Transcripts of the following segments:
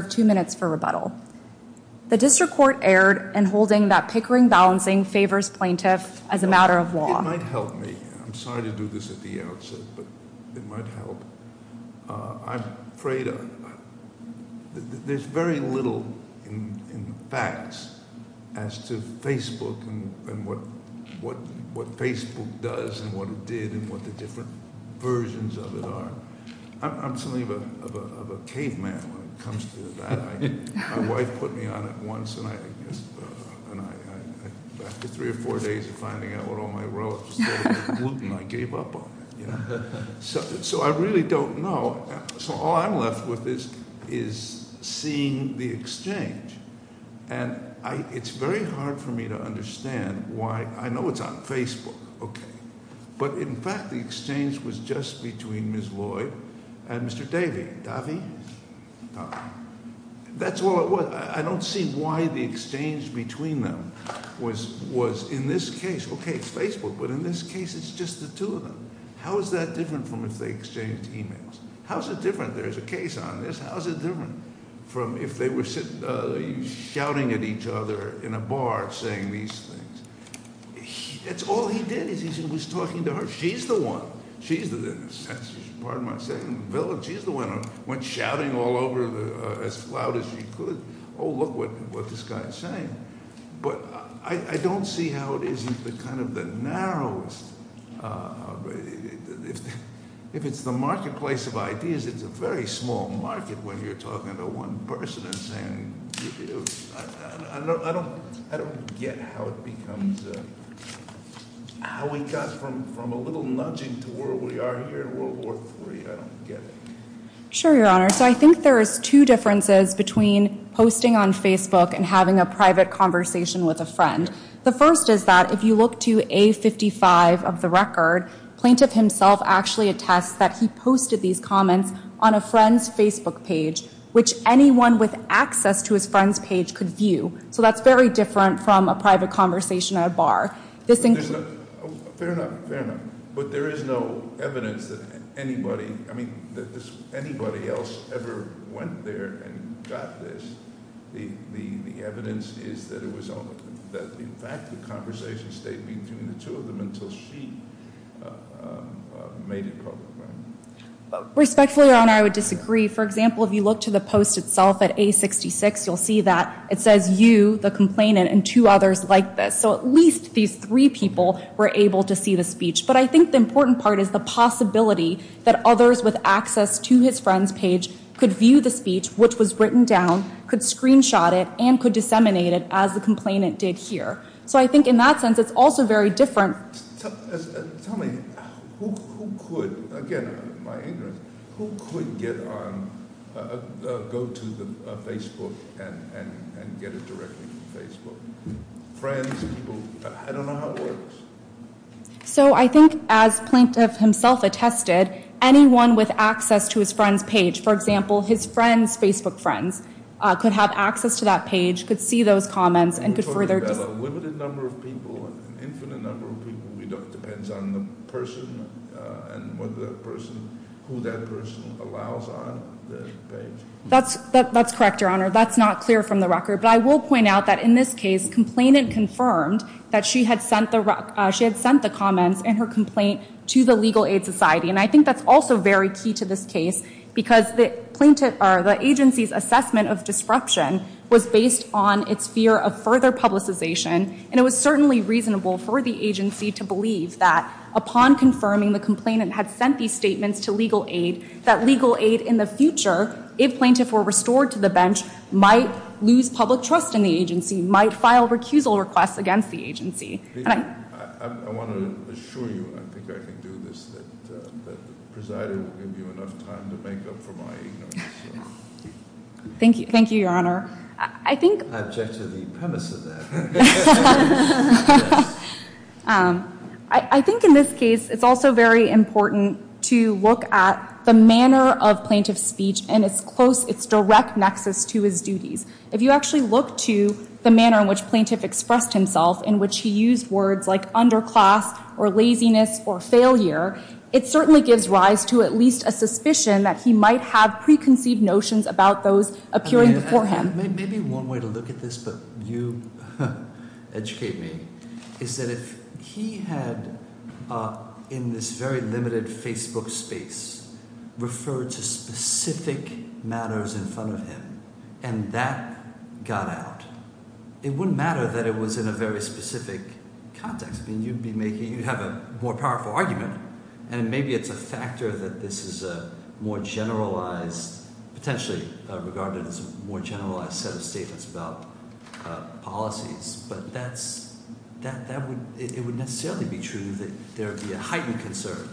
The District Court erred in holding that pickering-balancing favors plaintiffs as a matter of law. My wife put me on it once, and I, after three or four days of finding out what all my relatives said about gluten, I gave up on it, you know? So I really don't know. So all I'm left with is seeing the exchange. And it's very hard for me to understand why. I know it's on Facebook, okay. But in fact, the exchange was just between Ms. Lloyd and Mr. Davey. Davey? That's all it was. I don't see why the exchange between them was, in this case, okay, Facebook, but in this case it's just the two of them. How is that different from if they exchanged e-mails? How is it different? There's a case on this. How is it different from if they were shouting at each other in a bar saying these things? That's all he did is he was talking to her. She's the one. She's the one. She's the one. Went shouting all over as loud as she could. Oh, look what this guy is saying. But I don't see how it isn't the kind of the narrowest. If it's the marketplace of ideas, it's a very small market when you're talking to one person and saying. I don't get how it becomes, how we got from a little nudging to where we are here in World War III. I don't get it. Sure, Your Honor. So I think there is two differences between posting on Facebook and having a private conversation with a friend. The first is that if you look to A55 of the record, plaintiff himself actually attests that he posted these comments on a friend's Facebook page, which anyone with access to his friend's page could view. So that's very different from a private conversation at a bar. Fair enough, fair enough. But there is no evidence that anybody else ever went there and got this. The evidence is that in fact the conversation stayed between the two of them until she made it public. Respectfully, Your Honor, I would disagree. For example, if you look to the post itself at A66, you'll see that it says you, the complainant, and two others like this. So at least these three people were able to see the speech. But I think the important part is the possibility that others with access to his friend's page could view the speech, which was written down, could screenshot it, and could disseminate it as the complainant did here. So I think in that sense it's also very different. Tell me, who could, again, my ignorance, who could get on, go to Facebook and get it directly from Facebook? Friends, people, I don't know how it works. So I think as plaintiff himself attested, anyone with access to his friend's page, for example, his friend's Facebook friends, could have access to that page, could see those comments, and could further- Well, a limited number of people, an infinite number of people, it depends on the person and whether that person, who that person allows on the page. That's correct, Your Honor. That's not clear from the record. But I will point out that in this case, complainant confirmed that she had sent the comments in her complaint to the Legal Aid Society. And I think that's also very key to this case, because the agency's assessment of disruption was based on its fear of further publicization. And it was certainly reasonable for the agency to believe that upon confirming the complainant had sent these statements to legal aid, that legal aid in the future, if plaintiff were restored to the bench, might lose public trust in the agency, might file recusal requests against the agency. I want to assure you, and I think I can do this, that the presider will give you enough time to make up for my ignorance. Thank you, Your Honor. I object to the premise of that. I think in this case, it's also very important to look at the manner of plaintiff's speech and its direct nexus to his duties. If you actually look to the manner in which plaintiff expressed himself, in which he used words like underclass or laziness or failure, it certainly gives rise to at least a suspicion that he might have preconceived notions about those appearing before him. Maybe one way to look at this, but you educate me, is that if he had, in this very limited Facebook space, referred to specific matters in front of him, and that got out, it wouldn't matter that it was in a very specific context. You'd have a more powerful argument, and maybe it's a factor that this is a more generalized, potentially regarded as a more generalized set of statements about policies, but it would necessarily be true that there would be a heightened concern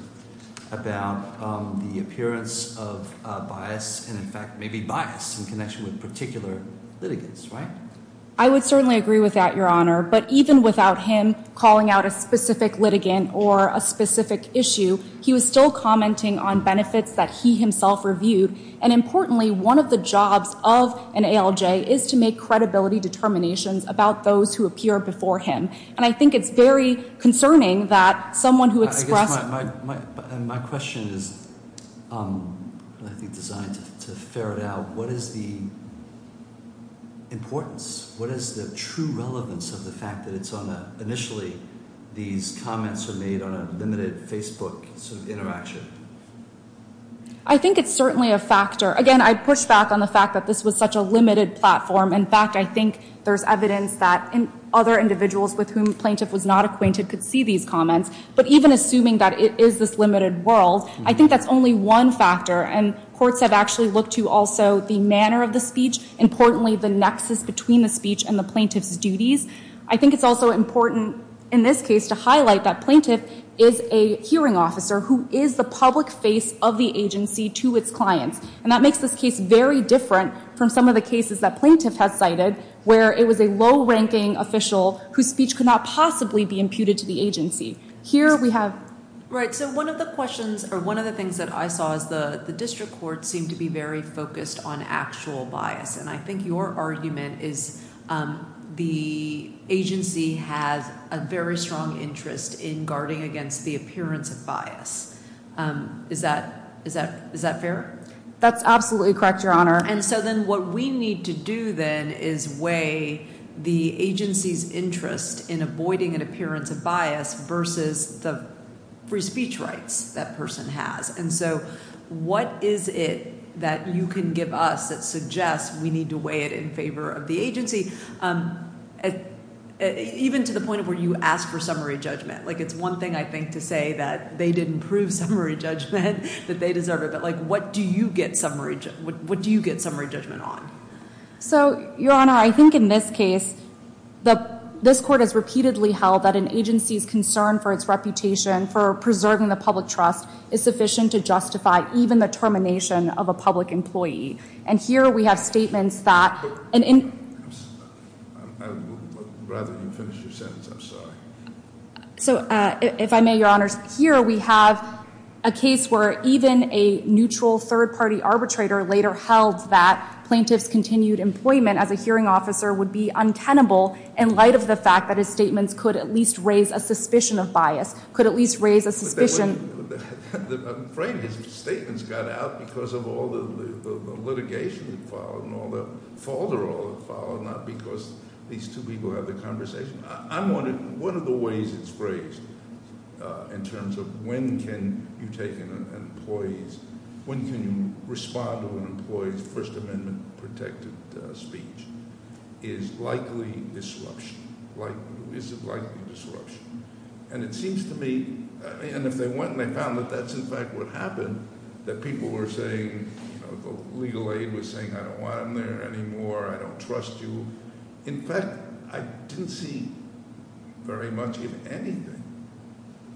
about the appearance of bias, and in fact, maybe bias in connection with particular litigants, right? I would certainly agree with that, Your Honor. But even without him calling out a specific litigant or a specific issue, he was still commenting on benefits that he himself reviewed, and importantly, one of the jobs of an ALJ is to make credibility determinations about those who appear before him, and I think it's very concerning that someone who expressed- I think it's certainly a factor. Again, I push back on the fact that this was such a limited platform. In fact, I think there's evidence that other individuals with whom the plaintiff was not acquainted could see these comments, but even assuming that it is this limited world, I think that's only one factor, and courts have actually looked to also the manner of the speech, importantly the nexus between the speech and the plaintiff's duties. I think it's also important in this case to highlight that plaintiff is a hearing officer who is the public face of the agency to its clients, and that makes this case very different from some of the cases that plaintiff has cited where it was a low-ranking official whose speech could not possibly be imputed to the agency. Here we have- All right, so one of the questions or one of the things that I saw is the district court seemed to be very focused on actual bias, and I think your argument is the agency has a very strong interest in guarding against the appearance of bias. Is that fair? That's absolutely correct, Your Honor. And so then what we need to do then is weigh the agency's interest in avoiding an appearance of bias versus the free speech rights that person has. And so what is it that you can give us that suggests we need to weigh it in favor of the agency, even to the point of where you ask for summary judgment? It's one thing, I think, to say that they didn't prove summary judgment, that they deserve it. But what do you get summary judgment on? So, Your Honor, I think in this case, this court has repeatedly held that an agency's concern for its reputation, for preserving the public trust, is sufficient to justify even the termination of a public employee. And here we have statements that- So, if I may, Your Honors, here we have a case where even a neutral third-party arbitrator later held that plaintiff's continued employment as a hearing officer would be untenable in light of the fact that his statements could at least raise a suspicion of bias, could at least raise a suspicion- I'm afraid his statements got out because of all the litigation that followed, and all the fault that all had followed, not because these two people had the conversation. I'm wondering, what are the ways it's phrased in terms of when can you take an employee's- when can you respond to an employee's First Amendment-protected speech? Is it likely disruption? And it seems to me, and if they went and they found that that's in fact what happened, that people were saying, legal aid was saying, I don't want him there anymore, I don't trust you. In fact, I didn't see very much in anything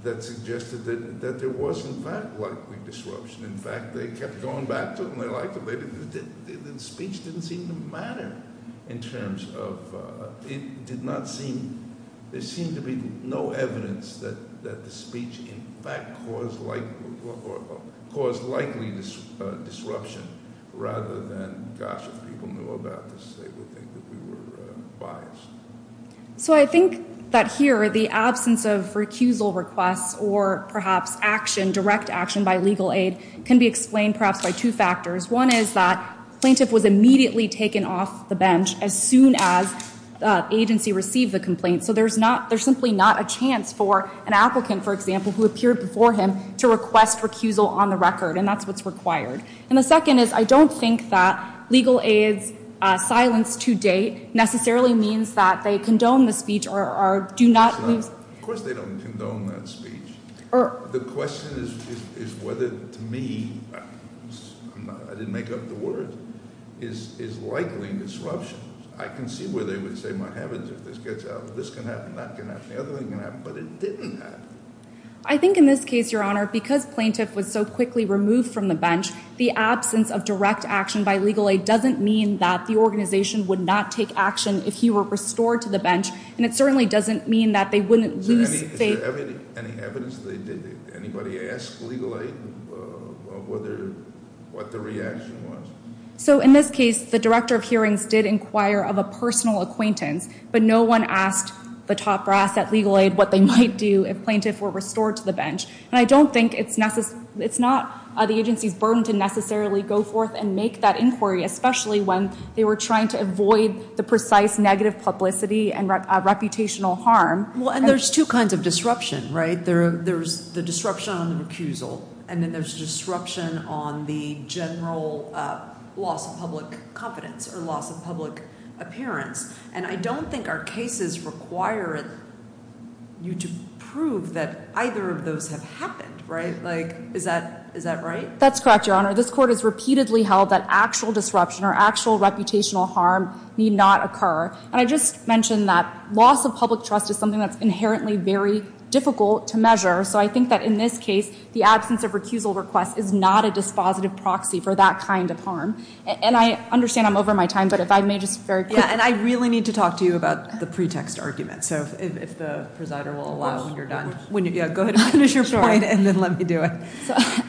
that suggested that there was in fact likely disruption. In fact, they kept going back to it and they liked it. The speech didn't seem to matter in terms of- it did not seem- there seemed to be no evidence that the speech in fact caused likely disruption rather than, gosh, if people knew about this, they would think that we were biased. So I think that here, the absence of recusal requests or perhaps action, direct action by legal aid, can be explained perhaps by two factors. One is that the plaintiff was immediately taken off the bench as soon as the agency received the complaint. So there's simply not a chance for an applicant, for example, who appeared before him to request recusal on the record, and that's what's required. And the second is I don't think that legal aid's silence to date necessarily means that they condone the speech or do not- Of course they don't condone that speech. The question is whether, to me, I didn't make up the word, is likely disruption. I can see where they would say, my heavens, if this gets out, this can happen, that can happen, the other thing can happen, but it didn't happen. I think in this case, Your Honor, because plaintiff was so quickly removed from the bench, the absence of direct action by legal aid doesn't mean that the organization would not take action if he were restored to the bench, and it certainly doesn't mean that they wouldn't lose faith- Is there any evidence that anybody asked legal aid what the reaction was? So in this case, the director of hearings did inquire of a personal acquaintance, but no one asked the top brass at legal aid what they might do if plaintiff were restored to the bench, and I don't think it's not the agency's burden to necessarily go forth and make that inquiry, especially when they were trying to avoid the precise negative publicity and reputational harm. Well, and there's two kinds of disruption, right? There's the disruption on the recusal, and then there's disruption on the general loss of public confidence or loss of public appearance, and I don't think our cases require you to prove that either of those have happened, right? Like, is that right? That's correct, Your Honor. This court has repeatedly held that actual disruption or actual reputational harm need not occur, and I just mentioned that loss of public trust is something that's inherently very difficult to measure, so I think that in this case, the absence of recusal request is not a dispositive proxy for that kind of harm, and I understand I'm over my time, but if I may just very quickly- Yeah, and I really need to talk to you about the pretext argument, so if the presider will allow when you're done. Yeah, go ahead and finish your point, and then let me do it.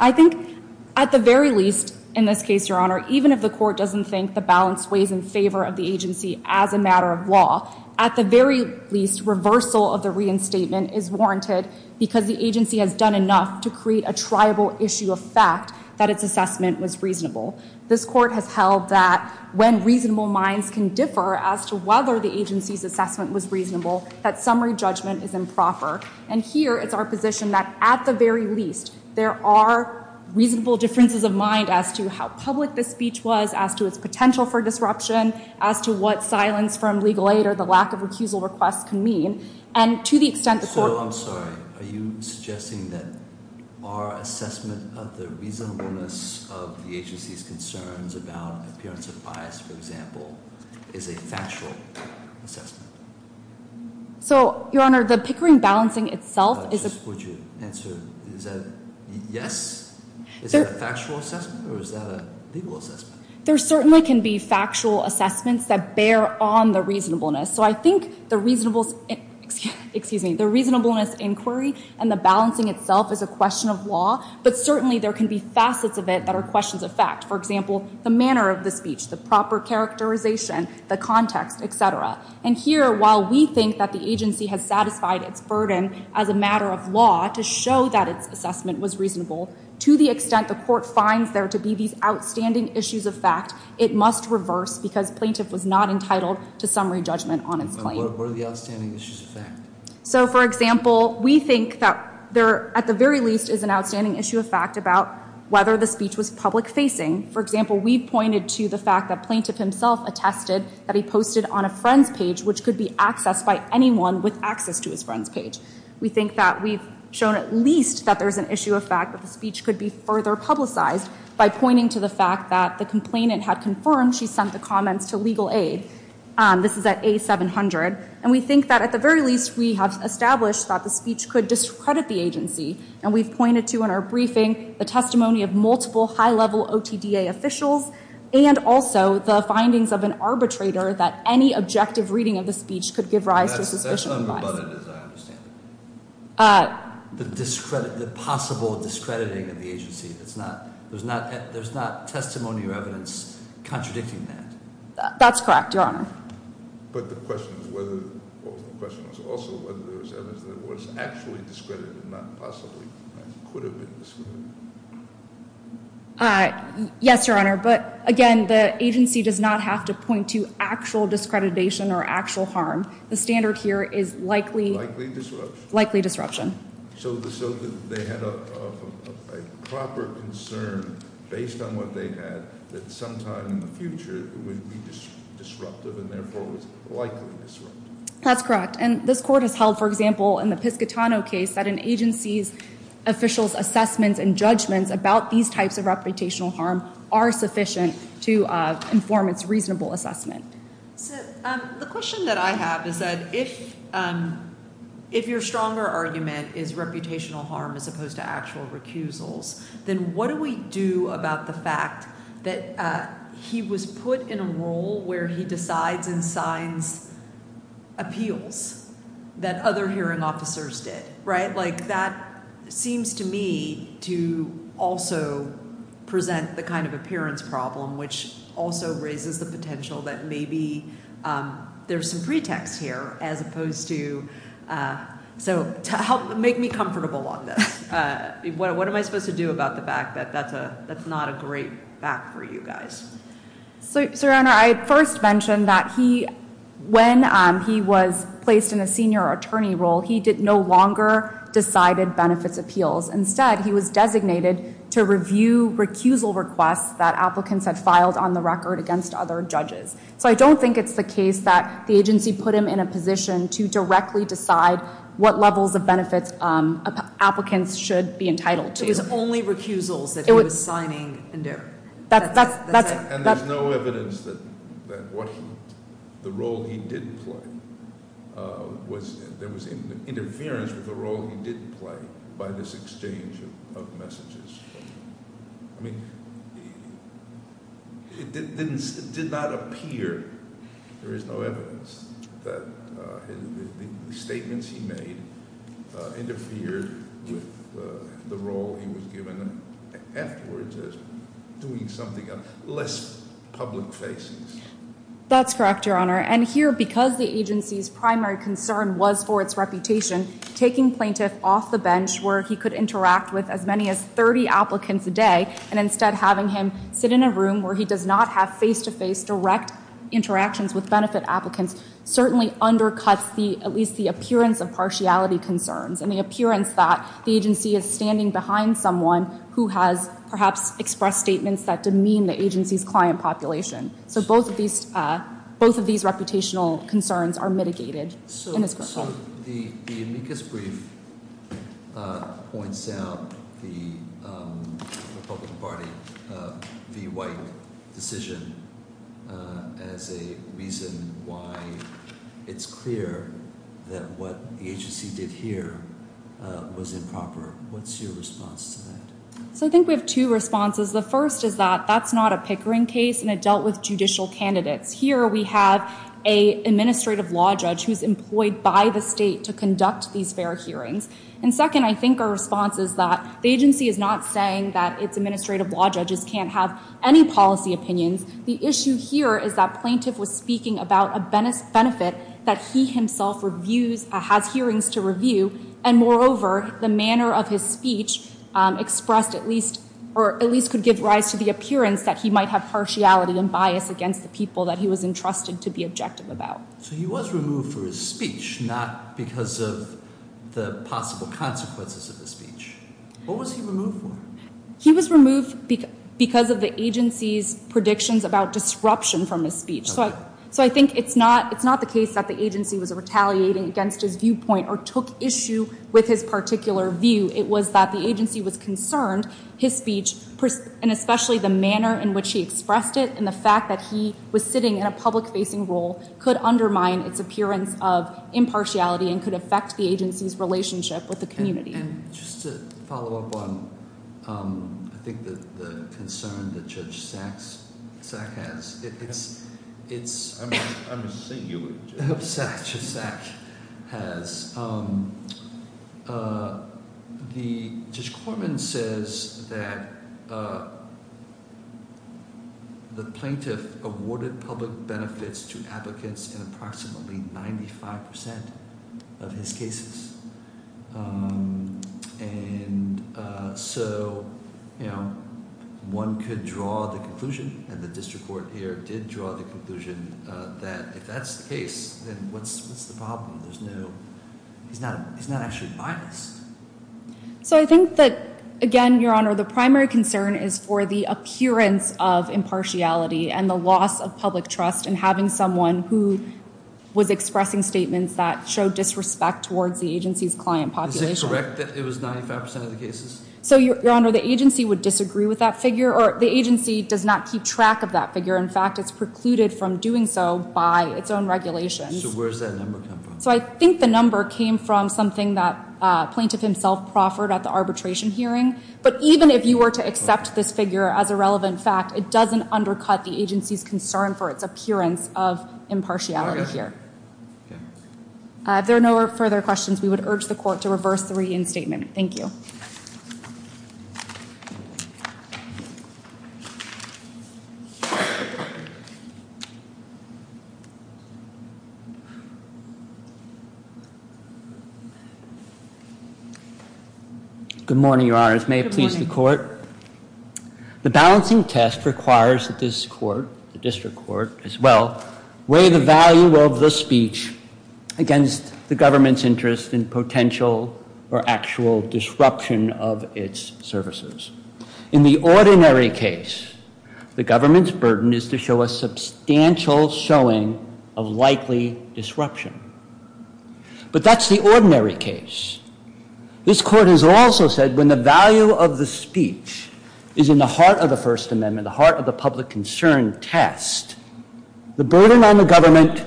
I think at the very least in this case, Your Honor, even if the court doesn't think the balance weighs in favor of the agency as a matter of law, at the very least, reversal of the reinstatement is warranted because the agency has done enough to create a triable issue of fact that its assessment was reasonable. This court has held that when reasonable minds can differ as to whether the agency's assessment was reasonable, that summary judgment is improper, and here, it's our position that at the very least, there are reasonable differences of mind as to how public the speech was, as to its potential for disruption, as to what silence from legal aid or the lack of recusal request can mean, and to the extent the court- So you're saying that our assessment of the reasonableness of the agency's concerns about appearance of bias, for example, is a factual assessment? So, Your Honor, the Pickering balancing itself is- Would you answer, is that a yes? Is that a factual assessment, or is that a legal assessment? There certainly can be factual assessments that bear on the reasonableness, so I think the reasonableness inquiry and the balancing itself is a question of law, but certainly there can be facets of it that are questions of fact. For example, the manner of the speech, the proper characterization, the context, etc. And here, while we think that the agency has satisfied its burden as a matter of law to show that its assessment was reasonable, to the extent the court finds there to be these outstanding issues of fact, it must reverse because plaintiff was not entitled to summary judgment on its claim. What are the outstanding issues of fact? So, for example, we think that there, at the very least, is an outstanding issue of fact about whether the speech was public-facing. For example, we pointed to the fact that plaintiff himself attested that he posted on a friend's page, which could be accessed by anyone with access to his friend's page. We think that we've shown at least that there's an issue of fact that the speech could be further publicized by pointing to the fact that the complainant had confirmed she sent the comments to legal aid. This is at A700. And we think that, at the very least, we have established that the speech could discredit the agency, and we've pointed to in our briefing the testimony of multiple high-level OTDA officials and also the findings of an arbitrator that any objective reading of the speech could give rise to suspicion of bias. The possible discrediting of the agency. There's not testimony or evidence contradicting that. That's correct, Your Honor. But the question is also whether there was evidence that it was actually discredited, not possibly, and could have been discredited. Yes, Your Honor. But, again, the agency does not have to point to actual discreditation or actual harm. The standard here is likely- Likely disruption. Likely disruption. So they had a proper concern, based on what they had, that sometime in the future it would be disruptive and therefore was likely disruptive. That's correct. And this Court has held, for example, in the Piscitano case, that an agency's officials' assessments and judgments about these types of reputational harm are sufficient to inform its reasonable assessment. So the question that I have is that if your stronger argument is reputational harm as opposed to actual recusals, then what do we do about the fact that he was put in a role where he decides and signs appeals that other hearing officers did, right? Like, that seems to me to also present the kind of appearance problem, which also raises the potential that maybe there's some pretext here as opposed to- So make me comfortable on this. What am I supposed to do about the fact that that's not a great fact for you guys? So, Your Honor, I first mentioned that when he was placed in a senior attorney role, he no longer decided benefits appeals. Instead, he was designated to review recusal requests that applicants had filed on the record against other judges. So I don't think it's the case that the agency put him in a position to directly decide what levels of benefits applicants should be entitled to. It was only recusals that he was signing and doing. And there's no evidence that the role he did play, there was interference with the role he did play by this exchange of messages. I mean, it did not appear, there is no evidence, that the statements he made interfered with the role he was given afterwards, as doing something on less public faces. That's correct, Your Honor. And here, because the agency's primary concern was for its reputation, taking plaintiff off the bench where he could interact with as many as 30 applicants a day, and instead having him sit in a room where he does not have face-to-face, direct interactions with benefit applicants, certainly undercuts at least the appearance of partiality concerns, and the appearance that the agency is standing behind someone who has perhaps expressed statements that demean the agency's client population. So both of these reputational concerns are mitigated in this case. So the amicus brief points out the Republican Party v. White decision as a reason why it's clear that what the agency did here was improper. What's your response to that? So I think we have two responses. The first is that that's not a Pickering case, and it dealt with judicial candidates. Here we have an administrative law judge who's employed by the state to conduct these fair hearings. And second, I think our response is that the agency is not saying that its administrative law judges can't have any policy opinions. The issue here is that plaintiff was speaking about a benefit that he himself has hearings to review, and moreover, the manner of his speech expressed at least could give rise to the appearance that he might have partiality and bias against the people that he was entrusted to be objective about. So he was removed for his speech, not because of the possible consequences of his speech. What was he removed for? He was removed because of the agency's predictions about disruption from his speech. So I think it's not the case that the agency was retaliating against his viewpoint or took issue with his particular view. It was that the agency was concerned his speech, and especially the manner in which he expressed it, and the fact that he was sitting in a public-facing role could undermine its appearance of impartiality and could affect the agency's relationship with the community. And just to follow up on, I think, the concern that Judge Sack has, it's – I'm just saying you would judge. Judge Sack has – the – Judge Corman says that the plaintiff awarded public benefits to applicants in approximately 95 percent of his cases. And so one could draw the conclusion, and the district court here did draw the conclusion that if that's the case, then what's the problem? There's no – he's not actually biased. So I think that, again, Your Honor, the primary concern is for the appearance of impartiality and the loss of public trust in having someone who was expressing statements that showed disrespect towards the agency's client population. Is it correct that it was 95 percent of the cases? So, Your Honor, the agency would disagree with that figure, or the agency does not keep track of that figure. In fact, it's precluded from doing so by its own regulations. So where does that number come from? So I think the number came from something that plaintiff himself proffered at the arbitration hearing. But even if you were to accept this figure as a relevant fact, it doesn't undercut the agency's concern for its appearance of impartiality here. If there are no further questions, we would urge the court to reverse the reinstatement. Thank you. Good morning, Your Honors. May it please the court. The balancing test requires that this court, the district court as well, weigh the value of the speech against the government's interest in potential or actual disruption of its services. In the ordinary case, the government's burden is to show a substantial showing of likely disruption. But that's the ordinary case. This court has also said when the value of the speech is in the heart of the First Amendment, the heart of the public concern test, the burden on the government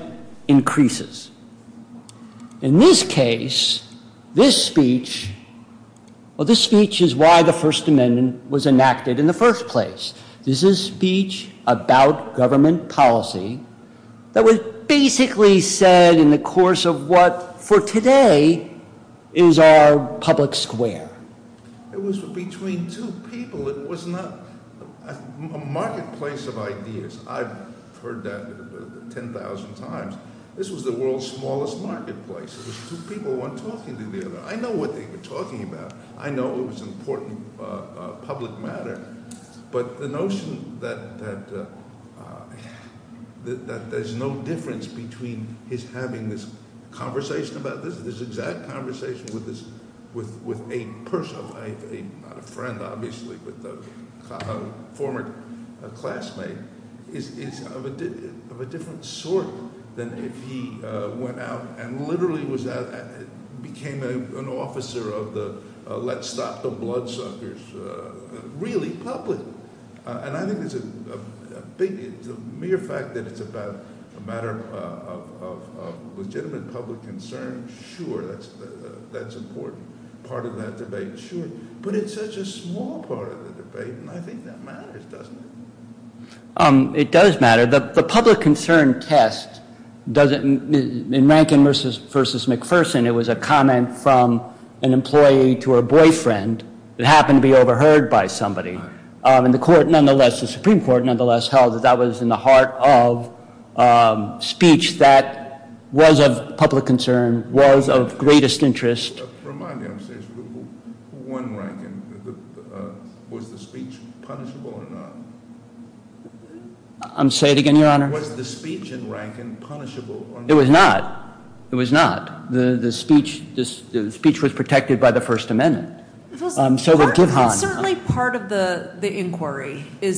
increases. In this case, this speech, well, this speech is why the First Amendment was enacted in the first place. This is speech about government policy that was basically said in the course of what, for today, is our public square. It was between two people. It was not a marketplace of ideas. I've heard that 10,000 times. This was the world's smallest marketplace. It was two people, one talking to the other. I know what they were talking about. I know it was important public matter. But the notion that there's no difference between his having this conversation about this, this exact conversation with a person, not a friend, obviously, but a former classmate, is of a different sort than if he went out and literally became an officer of the let's stop the bloodsuckers. It's really public. And I think there's a big, the mere fact that it's about a matter of legitimate public concern, sure, that's important. Part of that debate, sure. But it's such a small part of the debate, and I think that matters, doesn't it? It does matter. The public concern test doesn't, in Rankin versus McPherson, it was a comment from an employee to her boyfriend that happened to be overheard by somebody. And the Supreme Court nonetheless held that that was in the heart of speech that was of public concern, was of greatest interest. Remind me, I'm serious. Who won Rankin? Was the speech punishable or not? Say it again, Your Honor. Was the speech in Rankin punishable or not? It was not. It was not. The speech was protected by the First Amendment. It was certainly part of the inquiry. This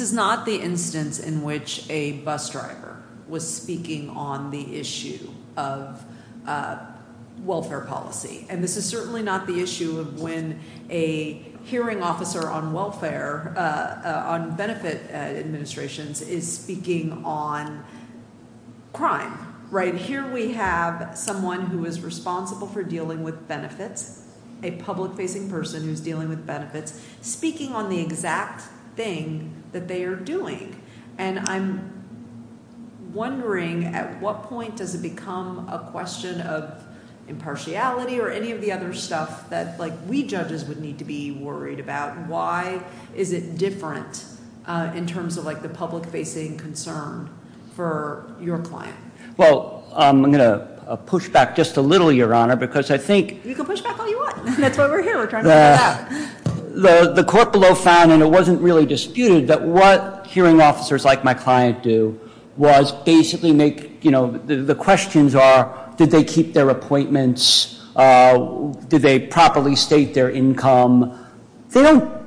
is not the instance in which a bus driver was speaking on the issue of welfare policy. And this is certainly not the issue of when a hearing officer on welfare, on benefit administrations, is speaking on crime, right? Here we have someone who is responsible for dealing with benefits, a public-facing person who's dealing with benefits, speaking on the exact thing that they are doing. And I'm wondering, at what point does it become a question of impartiality or any of the other stuff that, like, we judges would need to be worried about? Why is it different in terms of, like, the public-facing concern for your client? Well, I'm going to push back just a little, Your Honor, because I think— You can push back all you want. That's why we're here. We're trying to figure it out. The court below found, and it wasn't really disputed, that what hearing officers like my client do was basically make— you know, the questions are, did they keep their appointments? Did they properly state their income? They don't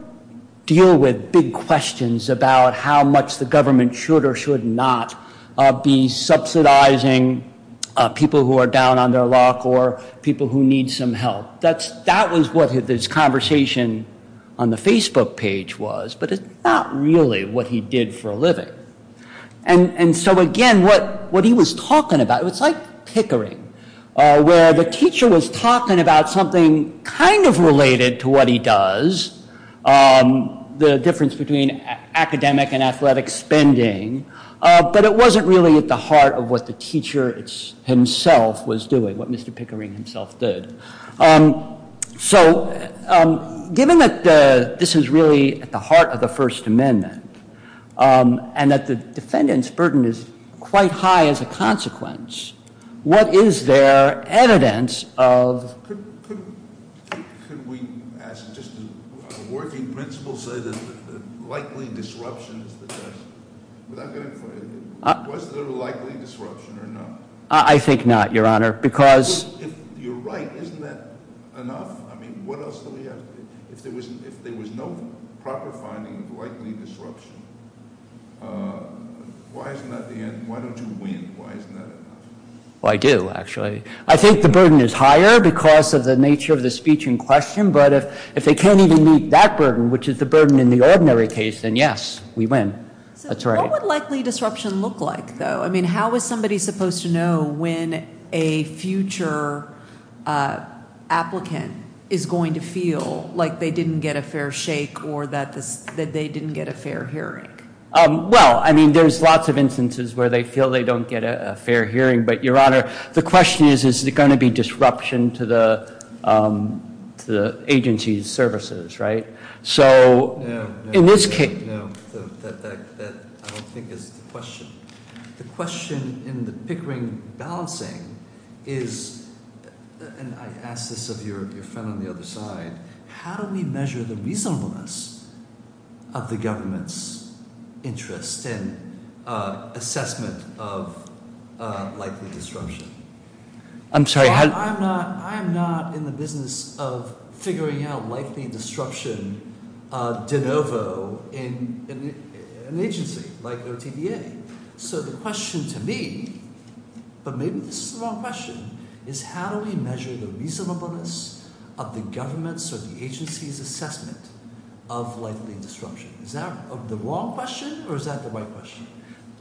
deal with big questions about how much the government should or should not be subsidizing people who are down on their luck or people who need some help. That was what his conversation on the Facebook page was, but it's not really what he did for a living. And so, again, what he was talking about, it was like Pickering, where the teacher was talking about something kind of related to what he does, the difference between academic and athletic spending, but it wasn't really at the heart of what the teacher himself was doing, what Mr. Pickering himself did. So, given that this is really at the heart of the First Amendment and that the defendant's burden is quite high as a consequence, what is there evidence of— Could we, as just a working principle, say that likely disruption is the test? Was there likely disruption or not? I think not, Your Honor, because— If you're right, isn't that enough? I mean, what else do we have to do? If there was no proper finding of likely disruption, why isn't that the end? Why don't you win? Why isn't that enough? Well, I do, actually. I think the burden is higher because of the nature of the speech in question, but if they can't even meet that burden, which is the burden in the ordinary case, then yes, we win. That's right. What would likely disruption look like, though? I mean, how is somebody supposed to know when a future applicant is going to feel like they didn't get a fair shake or that they didn't get a fair hearing? Well, I mean, there's lots of instances where they feel they don't get a fair hearing, but, Your Honor, the question is, is there going to be disruption to the agency's services, right? So in this case— No, that I don't think is the question. The question in the Pickering balancing is—and I ask this of your friend on the other side— is how do we measure the reasonableness of the government's interest in assessment of likely disruption? I'm sorry, how— I'm not in the business of figuring out likely disruption de novo in an agency like OTDA. So the question to me—but maybe this is the wrong question— is how do we measure the reasonableness of the government's or the agency's assessment of likely disruption? Is that the wrong question, or is that the right question?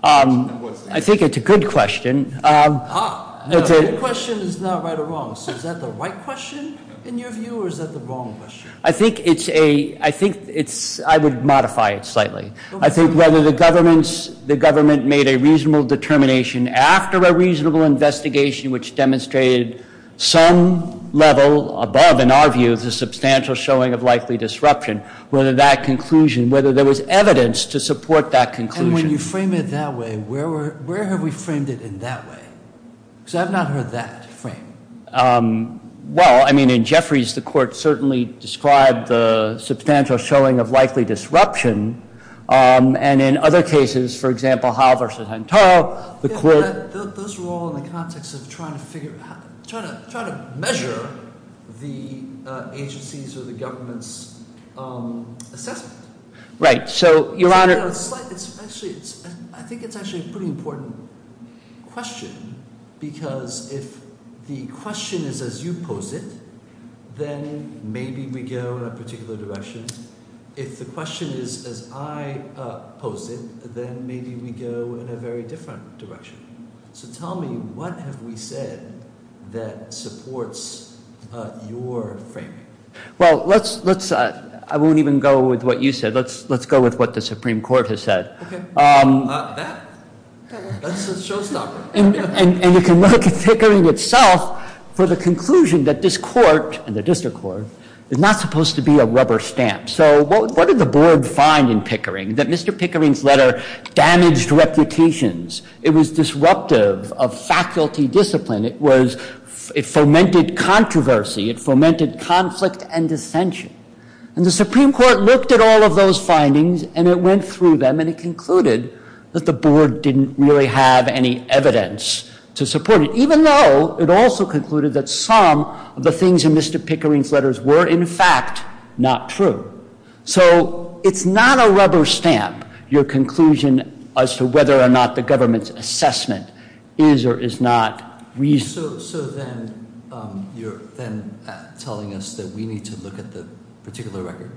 I think it's a good question. Ah, a good question is not right or wrong. So is that the right question, in your view, or is that the wrong question? I think it's a—I think it's—I would modify it slightly. I think whether the government made a reasonable determination after a reasonable investigation which demonstrated some level above, in our view, the substantial showing of likely disruption, whether that conclusion—whether there was evidence to support that conclusion. And when you frame it that way, where have we framed it in that way? Because I've not heard that framed. Well, I mean, in Jeffries, the court certainly described the substantial showing of likely disruption. And in other cases, for example, Howell v. Huntall, the court— Those were all in the context of trying to figure out—trying to measure the agency's or the government's assessment. Right. So, Your Honor— I think it's actually a pretty important question because if the question is as you pose it, then maybe we go in a particular direction. If the question is as I pose it, then maybe we go in a very different direction. So tell me, what have we said that supports your framing? Well, let's—I won't even go with what you said. Let's go with what the Supreme Court has said. That? That's a showstopper. And you can look at Pickering itself for the conclusion that this court, and the district court, is not supposed to be a rubber stamp. So what did the board find in Pickering? That Mr. Pickering's letter damaged reputations. It was disruptive of faculty discipline. It was—it fomented controversy. It fomented conflict and dissension. And the Supreme Court looked at all of those findings, and it went through them, and it concluded that the board didn't really have any evidence to support it, even though it also concluded that some of the things in Mr. Pickering's letters were, in fact, not true. So it's not a rubber stamp, your conclusion as to whether or not the government's assessment is or is not reasonable. So then you're then telling us that we need to look at the particular record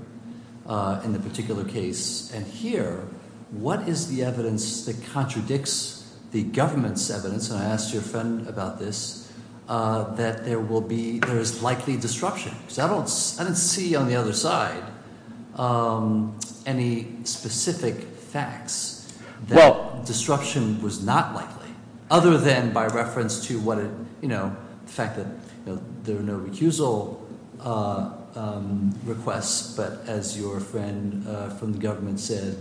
in the particular case. And here, what is the evidence that contradicts the government's evidence, and I asked your friend about this, that there will be—there is likely disruption? Because I don't—I didn't see on the other side any specific facts that disruption was not likely, other than by reference to what it—you know, the fact that there are no recusal requests, but as your friend from the government said,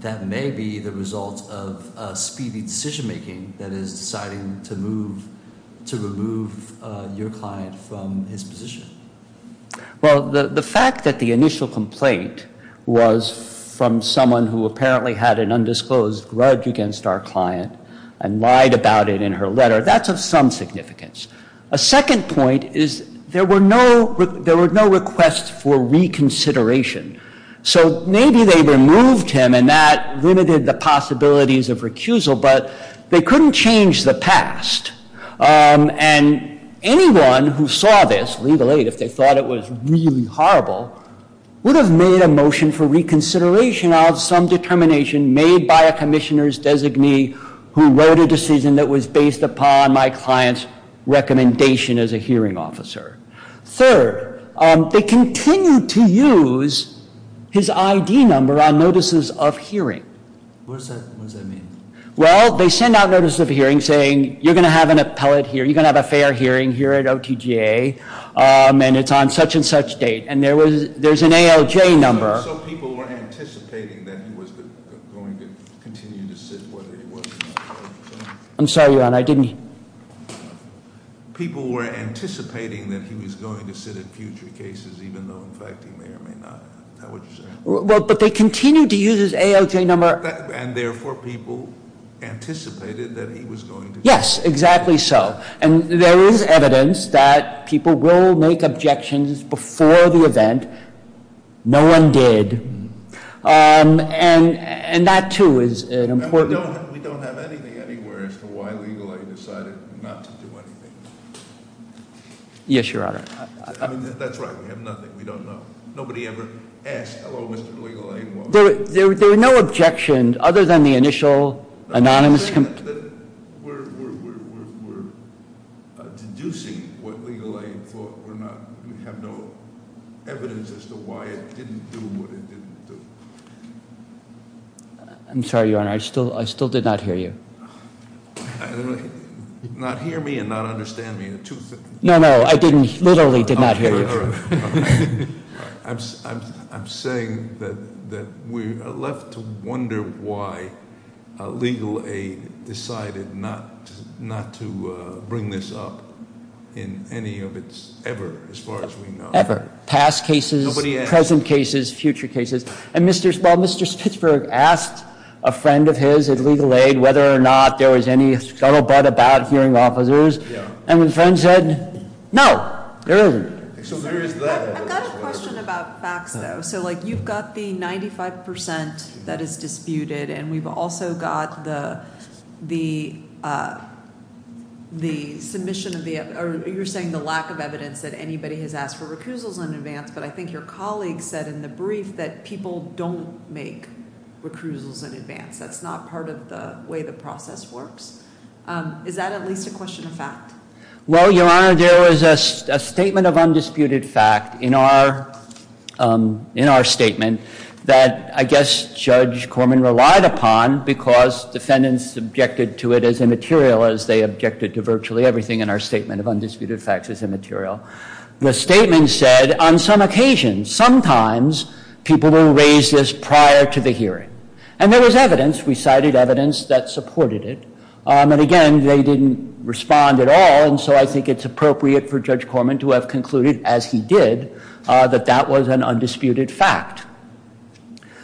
that may be the result of speedy decision-making that is deciding to move—to remove your client from his position. Well, the fact that the initial complaint was from someone who apparently had an undisclosed grudge against our client and lied about it in her letter, that's of some significance. A second point is there were no requests for reconsideration. So maybe they removed him, and that limited the possibilities of recusal, but they couldn't change the past. And anyone who saw this, legally, if they thought it was really horrible, would have made a motion for reconsideration of some determination made by a commissioner's designee who wrote a decision that was based upon my client's recommendation as a hearing officer. Third, they continued to use his ID number on notices of hearing. What does that mean? Well, they send out notices of hearing saying, you're going to have an appellate here, you're going to have a fair hearing here at OTGA, and it's on such-and-such date. And there was—there's an AOJ number. So people were anticipating that he was going to continue to sit where he was. I'm sorry, Your Honor, I didn't— People were anticipating that he was going to sit at future cases, even though, in fact, he may or may not. Is that what you're saying? Well, but they continued to use his AOJ number. And therefore, people anticipated that he was going to continue. Yes, exactly so. And there is evidence that people will make objections before the event. No one did. And that, too, is an important— And we don't have anything anywhere as to why legally I decided not to do anything. Yes, Your Honor. I mean, that's right. We have nothing. We don't know. Nobody ever asked, hello, Mr. Legal Aid. There were no objections other than the initial anonymous— We're deducing what Legal Aid thought or not. We have no evidence as to why it didn't do what it didn't do. I'm sorry, Your Honor, I still did not hear you. Not hear me and not understand me are two— No, no, I didn't—literally did not hear you. I'm saying that we are left to wonder why Legal Aid decided not to bring this up in any of its ever, as far as we know. Ever. Past cases, present cases, future cases. And Mr. Spitzberg asked a friend of his at Legal Aid whether or not there was any scuttlebutt about hearing officers. And the friend said, no, there isn't. I've got a question about facts, though. So, like, you've got the 95 percent that is disputed, and we've also got the submission of the— or you're saying the lack of evidence that anybody has asked for recusals in advance, but I think your colleague said in the brief that people don't make recusals in advance. That's not part of the way the process works. Is that at least a question of fact? Well, Your Honor, there was a statement of undisputed fact in our statement that I guess Judge Corman relied upon because defendants objected to it as immaterial as they objected to virtually everything in our statement of undisputed facts as immaterial. The statement said, on some occasions, sometimes people will raise this prior to the hearing. And there was evidence. We cited evidence that supported it. And, again, they didn't respond at all. And so I think it's appropriate for Judge Corman to have concluded, as he did, that that was an undisputed fact.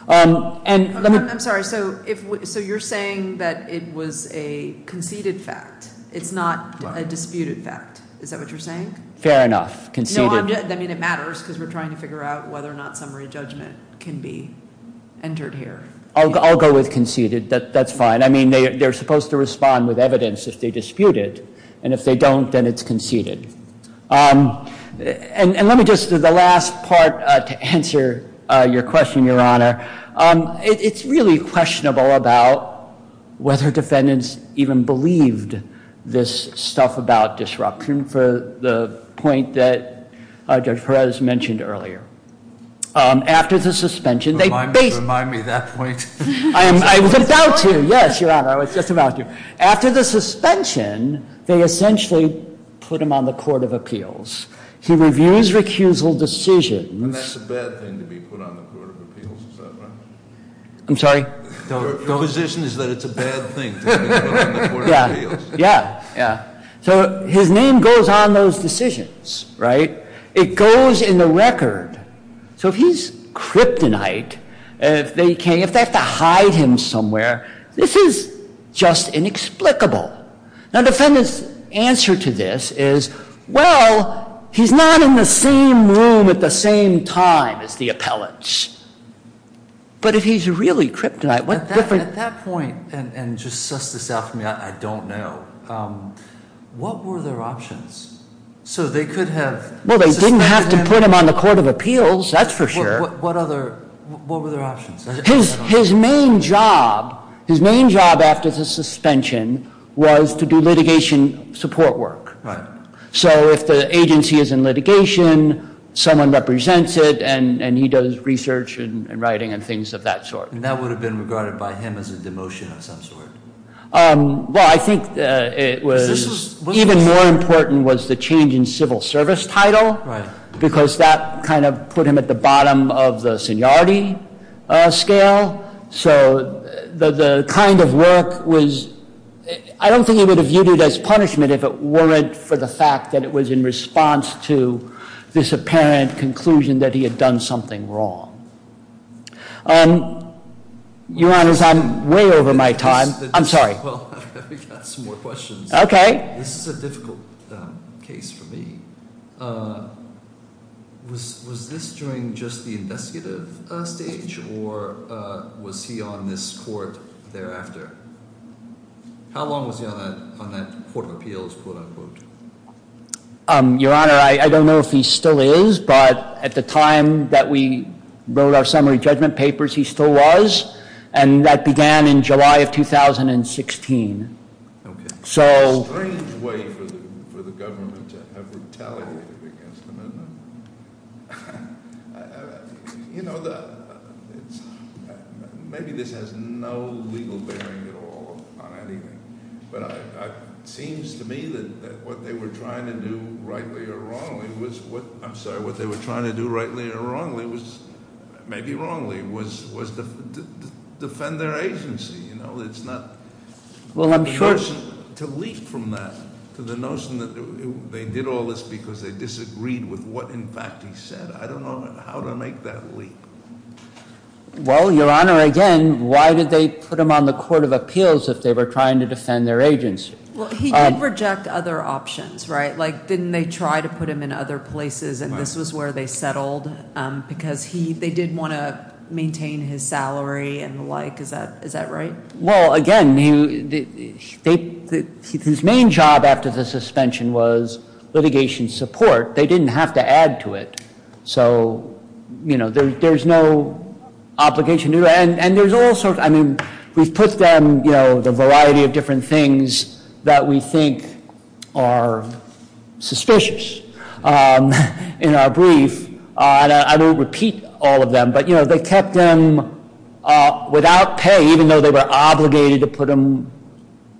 I'm sorry. So you're saying that it was a conceded fact. It's not a disputed fact. Is that what you're saying? Fair enough. Conceded. I mean, it matters because we're trying to figure out whether or not summary judgment can be entered here. I'll go with conceded. That's fine. I mean, they're supposed to respond with evidence if they dispute it. And if they don't, then it's conceded. And let me just do the last part to answer your question, Your Honor. It's really questionable about whether defendants even believed this stuff about disruption for the point that Judge Perez mentioned earlier. After the suspension, they based- Remind me of that point. I was about to. Yes, Your Honor, I was just about to. After the suspension, they essentially put him on the court of appeals. He reviews recusal decisions- And that's a bad thing to be put on the court of appeals, is that right? I'm sorry? Your position is that it's a bad thing to be put on the court of appeals. Yeah. Yeah. So his name goes on those decisions, right? It goes in the record. So if he's kryptonite, if they have to hide him somewhere, this is just inexplicable. Now, defendant's answer to this is, well, he's not in the same room at the same time as the appellants. But if he's really kryptonite- At that point, and just suss this out for me, I don't know, what were their options? So they could have suspended him- Appeals, that's for sure. What were their options? His main job after the suspension was to do litigation support work. Right. So if the agency is in litigation, someone represents it, and he does research and writing and things of that sort. And that would have been regarded by him as a demotion of some sort? Well, I think it was- Because this was- Put him at the bottom of the seniority scale. So the kind of work was- I don't think he would have viewed it as punishment if it weren't for the fact that it was in response to this apparent conclusion that he had done something wrong. Your Honor, I'm way over my time. I'm sorry. Well, I've got some more questions. Okay. This is a difficult case for me. Was this during just the investigative stage, or was he on this court thereafter? How long was he on that court of appeals, quote, unquote? Your Honor, I don't know if he still is, but at the time that we wrote our summary judgment papers, he still was. And that began in July of 2016. Okay. So- It's a strange way for the government to have brutality against them, isn't it? You know, maybe this has no legal bearing at all on anything. But it seems to me that what they were trying to do rightly or wrongly was- I'm sorry, what they were trying to do rightly or wrongly was- Maybe wrongly, was to defend their agency. You know, it's not- Well, I'm sure- To leap from that to the notion that they did all this because they disagreed with what, in fact, he said. I don't know how to make that leap. Well, Your Honor, again, why did they put him on the court of appeals if they were trying to defend their agency? Well, he did reject other options, right? Like, didn't they try to put him in other places, and this was where they settled? Because they did want to maintain his salary and the like. Is that right? Well, again, his main job after the suspension was litigation support. They didn't have to add to it. So, you know, there's no obligation to do that. And there's all sorts- I mean, we've put them, you know, the variety of different things that we think are suspicious in our brief. And I won't repeat all of them, but, you know, they kept him without pay, even though they were obligated to put him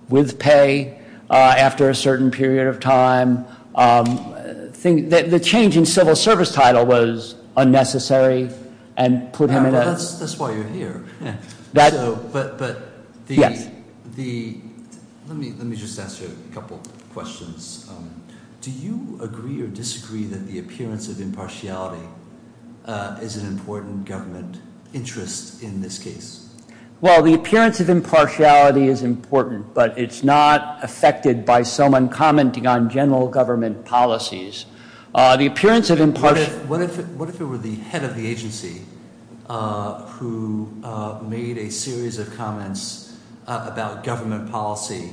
with pay after a certain period of time. The change in civil service title was unnecessary and put him in a- That's why you're here. But the- Yes. Let me just ask you a couple questions. Do you agree or disagree that the appearance of impartiality is an important government interest in this case? Well, the appearance of impartiality is important, but it's not affected by someone commenting on general government policies. What if it were the head of the agency who made a series of comments about government policy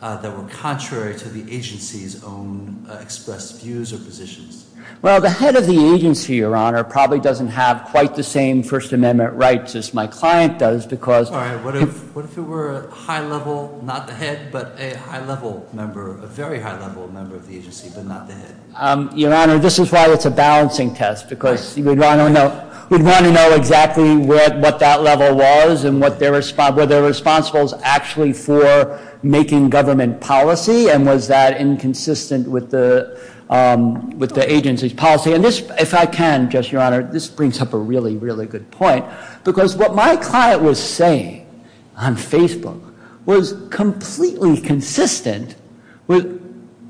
that were contrary to the agency's own expressed views or positions? Well, the head of the agency, Your Honor, probably doesn't have quite the same First Amendment rights as my client does because- All right. What if it were a high-level, not the head, but a high-level member, a very high-level member of the agency, but not the head? Your Honor, this is why it's a balancing test because we'd want to know exactly what that level was and whether they're responsible actually for making government policy, and was that inconsistent with the agency's policy. And if I can, Justice, Your Honor, this brings up a really, really good point because what my client was saying on Facebook was completely consistent with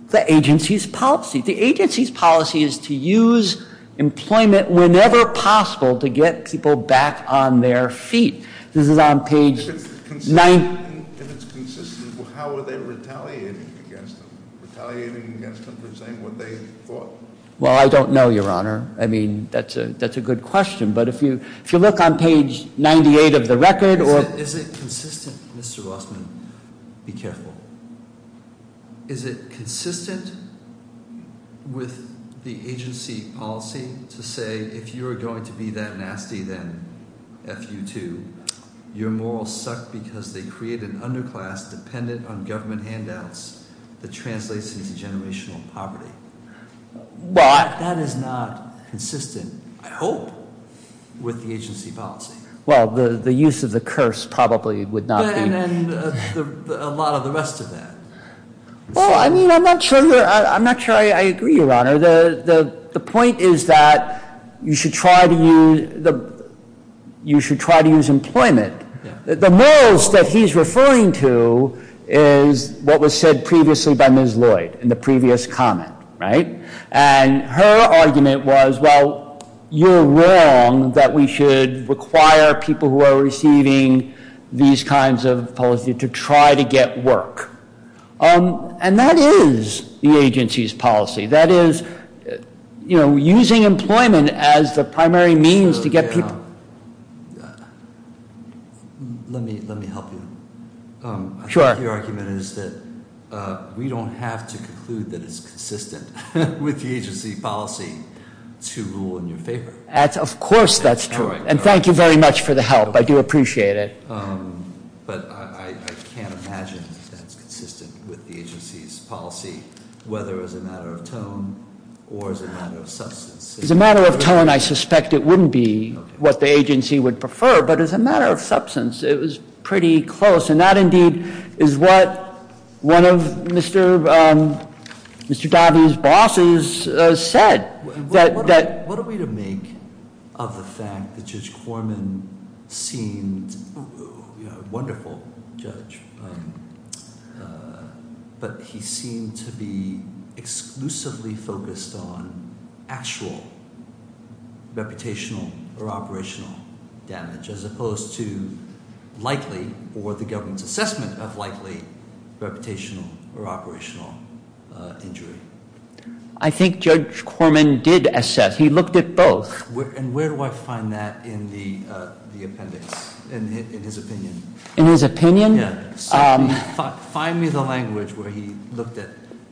the agency's policy. The agency's policy is to use employment whenever possible to get people back on their feet. This is on page- If it's consistent, how are they retaliating against them? Retaliating against them for saying what they thought? Well, I don't know, Your Honor. I mean, that's a good question. But if you look on page 98 of the record- Is it consistent? Mr. Rossman, be careful. Is it consistent with the agency policy to say if you're going to be that nasty then, FU2, your morals suck because they create an underclass dependent on government handouts that translates into generational poverty? Well, I- That is not consistent, I hope, with the agency policy. Well, the use of the curse probably would not be- And a lot of the rest of that. Well, I mean, I'm not sure I agree, Your Honor. The point is that you should try to use employment. The morals that he's referring to is what was said previously by Ms. Lloyd in the previous comment, right? And her argument was, well, you're wrong that we should require people who are receiving these kinds of policies to try to get work. And that is the agency's policy. That is, you know, using employment as the primary means to get people- So, Your Honor, let me help you. Sure. Your argument is that we don't have to conclude that it's consistent with the agency policy to rule in your favor. Of course, that's true. And thank you very much for the help. I do appreciate it. But I can't imagine that's consistent with the agency's policy, whether as a matter of tone or as a matter of substance. As a matter of tone, I suspect it wouldn't be what the agency would prefer. But as a matter of substance, it was pretty close. And that, indeed, is what one of Mr. Dobby's bosses said. What are we to make of the fact that Judge Corman seemed a wonderful judge, but he seemed to be exclusively focused on actual reputational or operational damage, as opposed to likely, or the government's assessment of likely, reputational or operational injury? I think Judge Corman did assess. He looked at both. And where do I find that in the appendix, in his opinion? In his opinion? Yeah. Find me the language where he looked at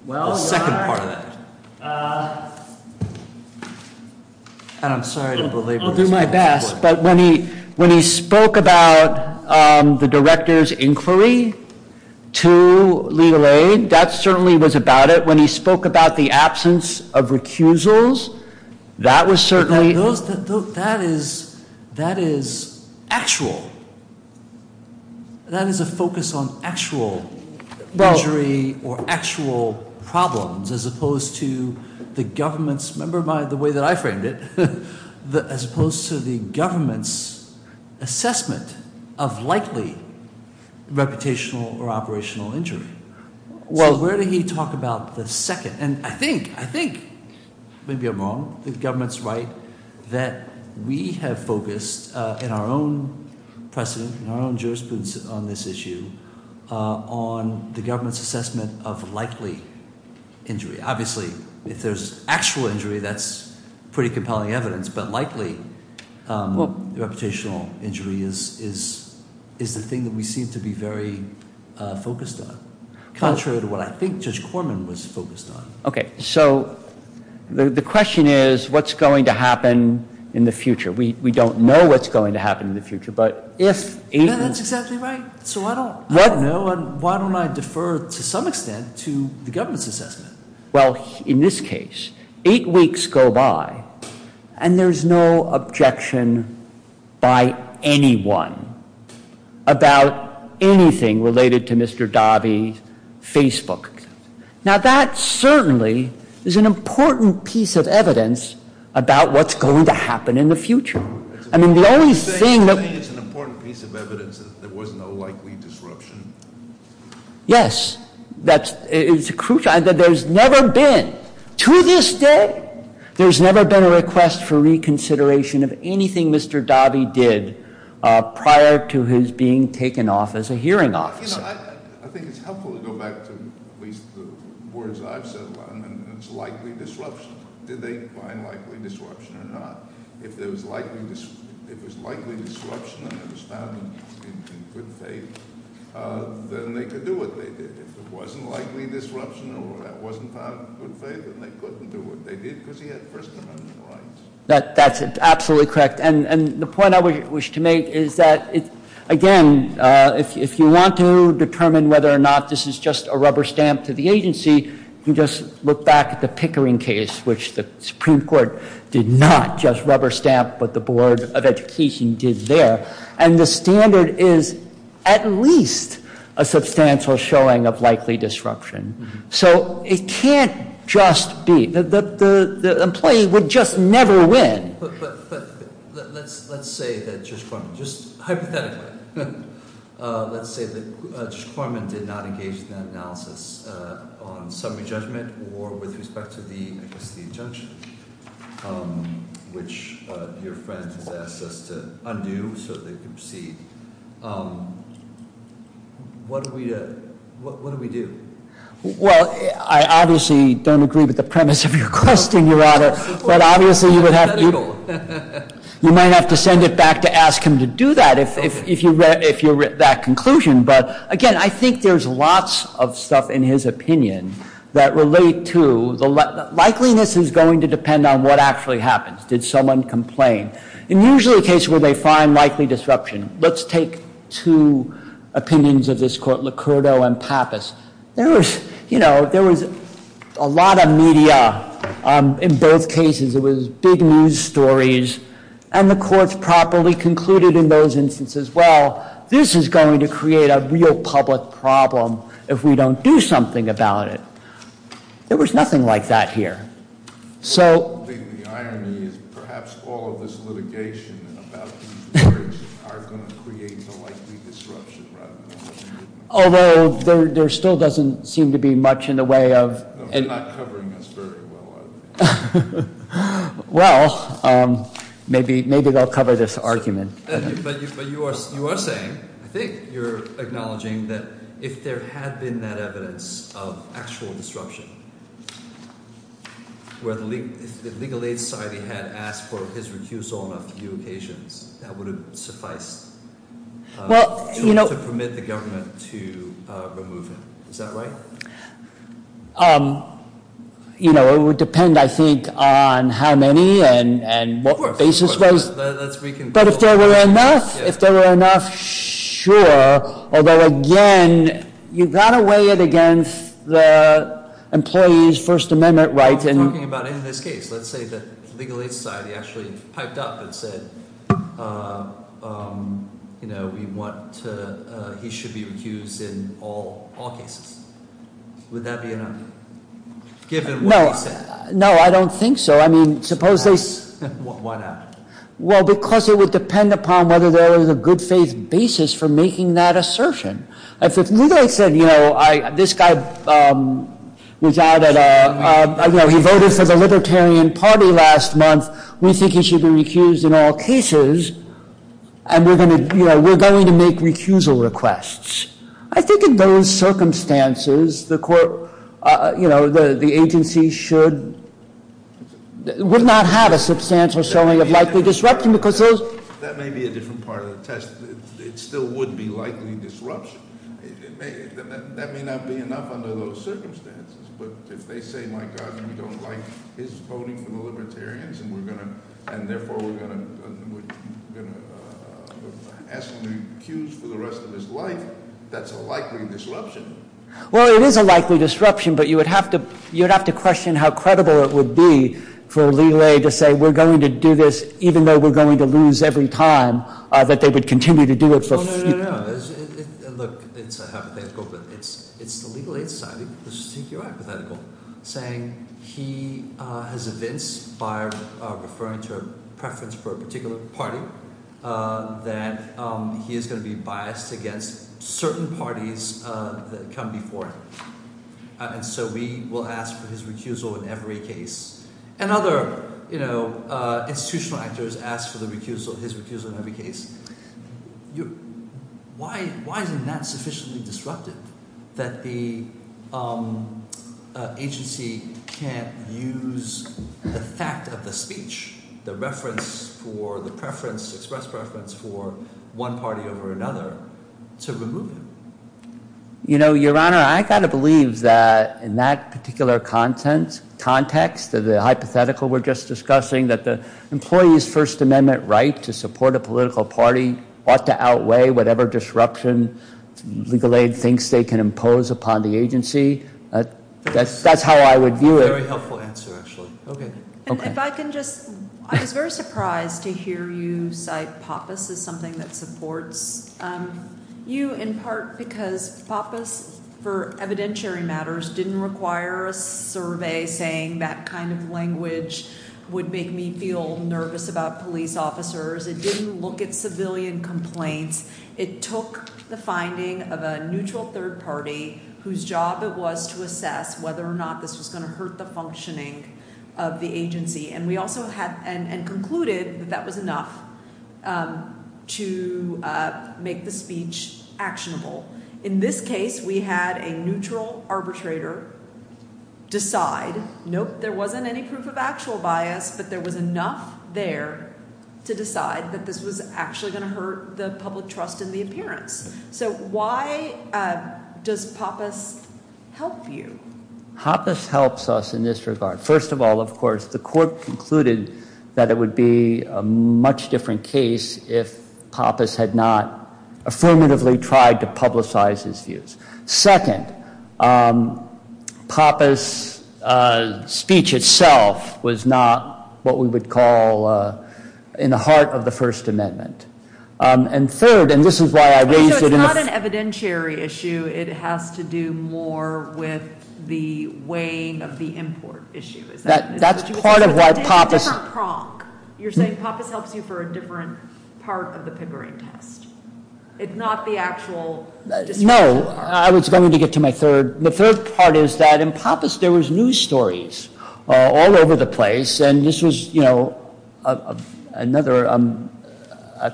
the second part of that. Well, Your Honor, I'll do my best. But when he spoke about the director's inquiry to Legal Aid, that certainly was about it. But when he spoke about the absence of recusals, that was certainly... That is actual. That is a focus on actual injury or actual problems, as opposed to the government's, remember the way that I framed it, as opposed to the government's assessment of likely reputational or operational injury. So where did he talk about the second? And I think, maybe I'm wrong, the government's right that we have focused in our own precedent, in our own jurisprudence on this issue, on the government's assessment of likely injury. Obviously, if there's actual injury, that's pretty compelling evidence. But likely, the reputational injury is the thing that we seem to be very focused on, contrary to what I think Judge Corman was focused on. Okay. So the question is, what's going to happen in the future? We don't know what's going to happen in the future, but if... That's exactly right. So I don't know, and why don't I defer, to some extent, to the government's assessment? Well, in this case, eight weeks go by, and there's no objection by anyone about anything related to Mr. Davi's Facebook. Now, that certainly is an important piece of evidence about what's going to happen in the future. I mean, the only thing... Are you saying it's an important piece of evidence that there was no likely disruption? Yes. It's crucial. There's never been, to this day, there's never been a request for reconsideration of anything Mr. Davi did prior to his being taken off as a hearing officer. You know, I think it's helpful to go back to at least the words I've said a lot, and it's likely disruption. Did they find likely disruption or not? If it was likely disruption and it was found in good faith, then they could do what they did. If it wasn't likely disruption or it wasn't found in good faith, then they couldn't do what they did because he had First Amendment rights. That's absolutely correct, and the point I wish to make is that, again, if you want to determine whether or not this is just a rubber stamp to the agency, you just look back at the Pickering case, which the Supreme Court did not just rubber stamp what the Board of Education did there, and the standard is at least a substantial showing of likely disruption. So it can't just be... The employee would just never win. But let's say that Judge Corman, just hypothetically, let's say that Judge Corman did not engage in that analysis on summary judgment or with respect to the, I guess, the injunction, which your friend has asked us to undo so they can proceed. What do we do? Well, I obviously don't agree with the premise of your question, Your Honor, but obviously you would have to... You might have to send it back to ask him to do that if you're that conclusion. But, again, I think there's lots of stuff in his opinion that relate to... Likeliness is going to depend on what actually happens. Did someone complain? In usually cases where they find likely disruption, let's take two opinions of this court, Licurdo and Pappas. There was, you know, there was a lot of media in both cases. It was big news stories, and the courts properly concluded in those instances, well, this is going to create a real public problem if we don't do something about it. There was nothing like that here. So... I think the irony is perhaps all of this litigation about these periods are going to create the likely disruption rather than... Although there still doesn't seem to be much in the way of... They're not covering us very well, are they? Well, maybe they'll cover this argument. But you are saying, I think you're acknowledging that if there had been that evidence of actual disruption, where the Legal Aid Society had asked for his recusal on a few occasions, that would have sufficed to permit the government to remove him. Is that right? You know, it would depend, I think, on how many and what basis was... But if there were enough? If there were enough, sure. Although, again, you've got to weigh it against the employee's First Amendment rights. We're not talking about in this case. Let's say that Legal Aid Society actually piped up and said, you know, we want to... He should be recused in all cases. Would that be enough, given what he said? No, I don't think so. I mean, suppose they... Why not? Well, because it would depend upon whether there was a good faith basis for making that assertion. If Legal Aid said, you know, this guy was out at a... You know, he voted for the Libertarian Party last month. We think he should be recused in all cases, and we're going to make recusal requests. I think in those circumstances, the agency should... would not have a substantial summing of likely disruption, because there's... That may be a different part of the test. It still would be likely disruption. That may not be enough under those circumstances, but if they say, my God, we don't like his voting for the Libertarians, and therefore we're going to ask him to recuse for the rest of his life, that's a likely disruption. Well, it is a likely disruption, but you would have to question how credible it would be for Legal Aid to say, we're going to do this, even though we're going to lose every time, that they would continue to do it for... No, no, no, no. Look, it's hypothetical, but it's the Legal Aid Society, which is particularly hypothetical, saying he has evinced by referring to a preference for a particular party that he is going to be biased against certain parties that come before him. And so we will ask for his recusal in every case. And other, you know, institutional actors ask for the recusal, his recusal in every case. Why isn't that sufficiently disruptive, that the agency can't use the fact of the speech, the reference for the preference, express preference for one party over another, to remove him? You know, Your Honor, I've got to believe that in that particular context, the hypothetical we're just discussing, that the employee's First Amendment right to support a political party ought to outweigh whatever disruption Legal Aid thinks they can impose upon the agency. That's how I would view it. Very helpful answer, actually. Okay. If I can just... I was very surprised to hear you cite PAPAS as something that supports... You, in part because PAPAS, for evidentiary matters, didn't require a survey saying that kind of language would make me feel nervous about police officers. It didn't look at civilian complaints. It took the finding of a neutral third party whose job it was to assess whether or not this was going to hurt the functioning of the agency. And concluded that that was enough to make the speech actionable. In this case, we had a neutral arbitrator decide, nope, there wasn't any proof of actual bias, but there was enough there to decide that this was actually going to hurt the public trust in the appearance. So why does PAPAS help you? PAPAS helps us in this regard. First of all, of course, the court concluded that it would be a much different case if PAPAS had not affirmatively tried to publicize his views. Second, PAPAS' speech itself was not what we would call in the heart of the First Amendment. And third, and this is why I raised it... It's not an evidentiary issue. It has to do more with the weighing of the import issue. That's part of what PAPAS... It's a different prong. You're saying PAPAS helps you for a different part of the Pickering test. It's not the actual distribution part. No. I was going to get to my third. The third part is that in PAPAS there was news stories all over the place. And this was, you know, another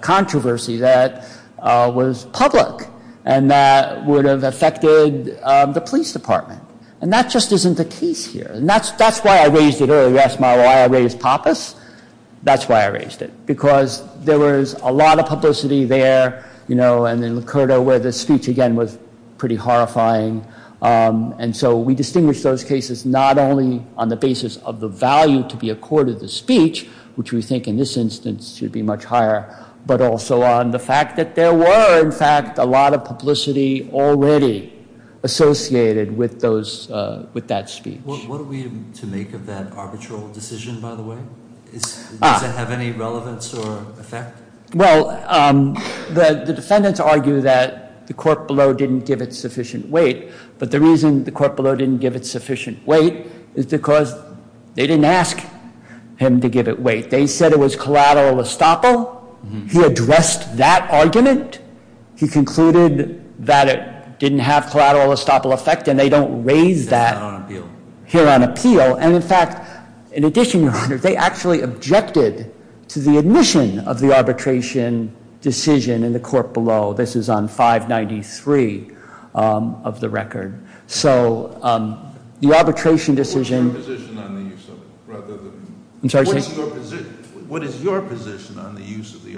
controversy that was public and that would have affected the police department. And that just isn't the case here. And that's why I raised it earlier. You asked me why I raised PAPAS. That's why I raised it, because there was a lot of publicity there, you know, and in Lakota where the speech, again, was pretty horrifying. And so we distinguish those cases not only on the basis of the value to be a court of the speech, which we think in this instance should be much higher, but also on the fact that there were, in fact, a lot of publicity already associated with that speech. What are we to make of that arbitral decision, by the way? Does it have any relevance or effect? Well, the defendants argue that the court below didn't give it sufficient weight. But the reason the court below didn't give it sufficient weight is because they didn't ask him to give it weight. They said it was collateral estoppel. He addressed that argument. He concluded that it didn't have collateral estoppel effect, and they don't raise that here on appeal. And in fact, in addition, Your Honor, they actually objected to the admission of the arbitration decision in the court below. This is on 593 of the record. So the arbitration decision- What's your position on the use of it, rather than- I'm sorry? What is your position on the use of the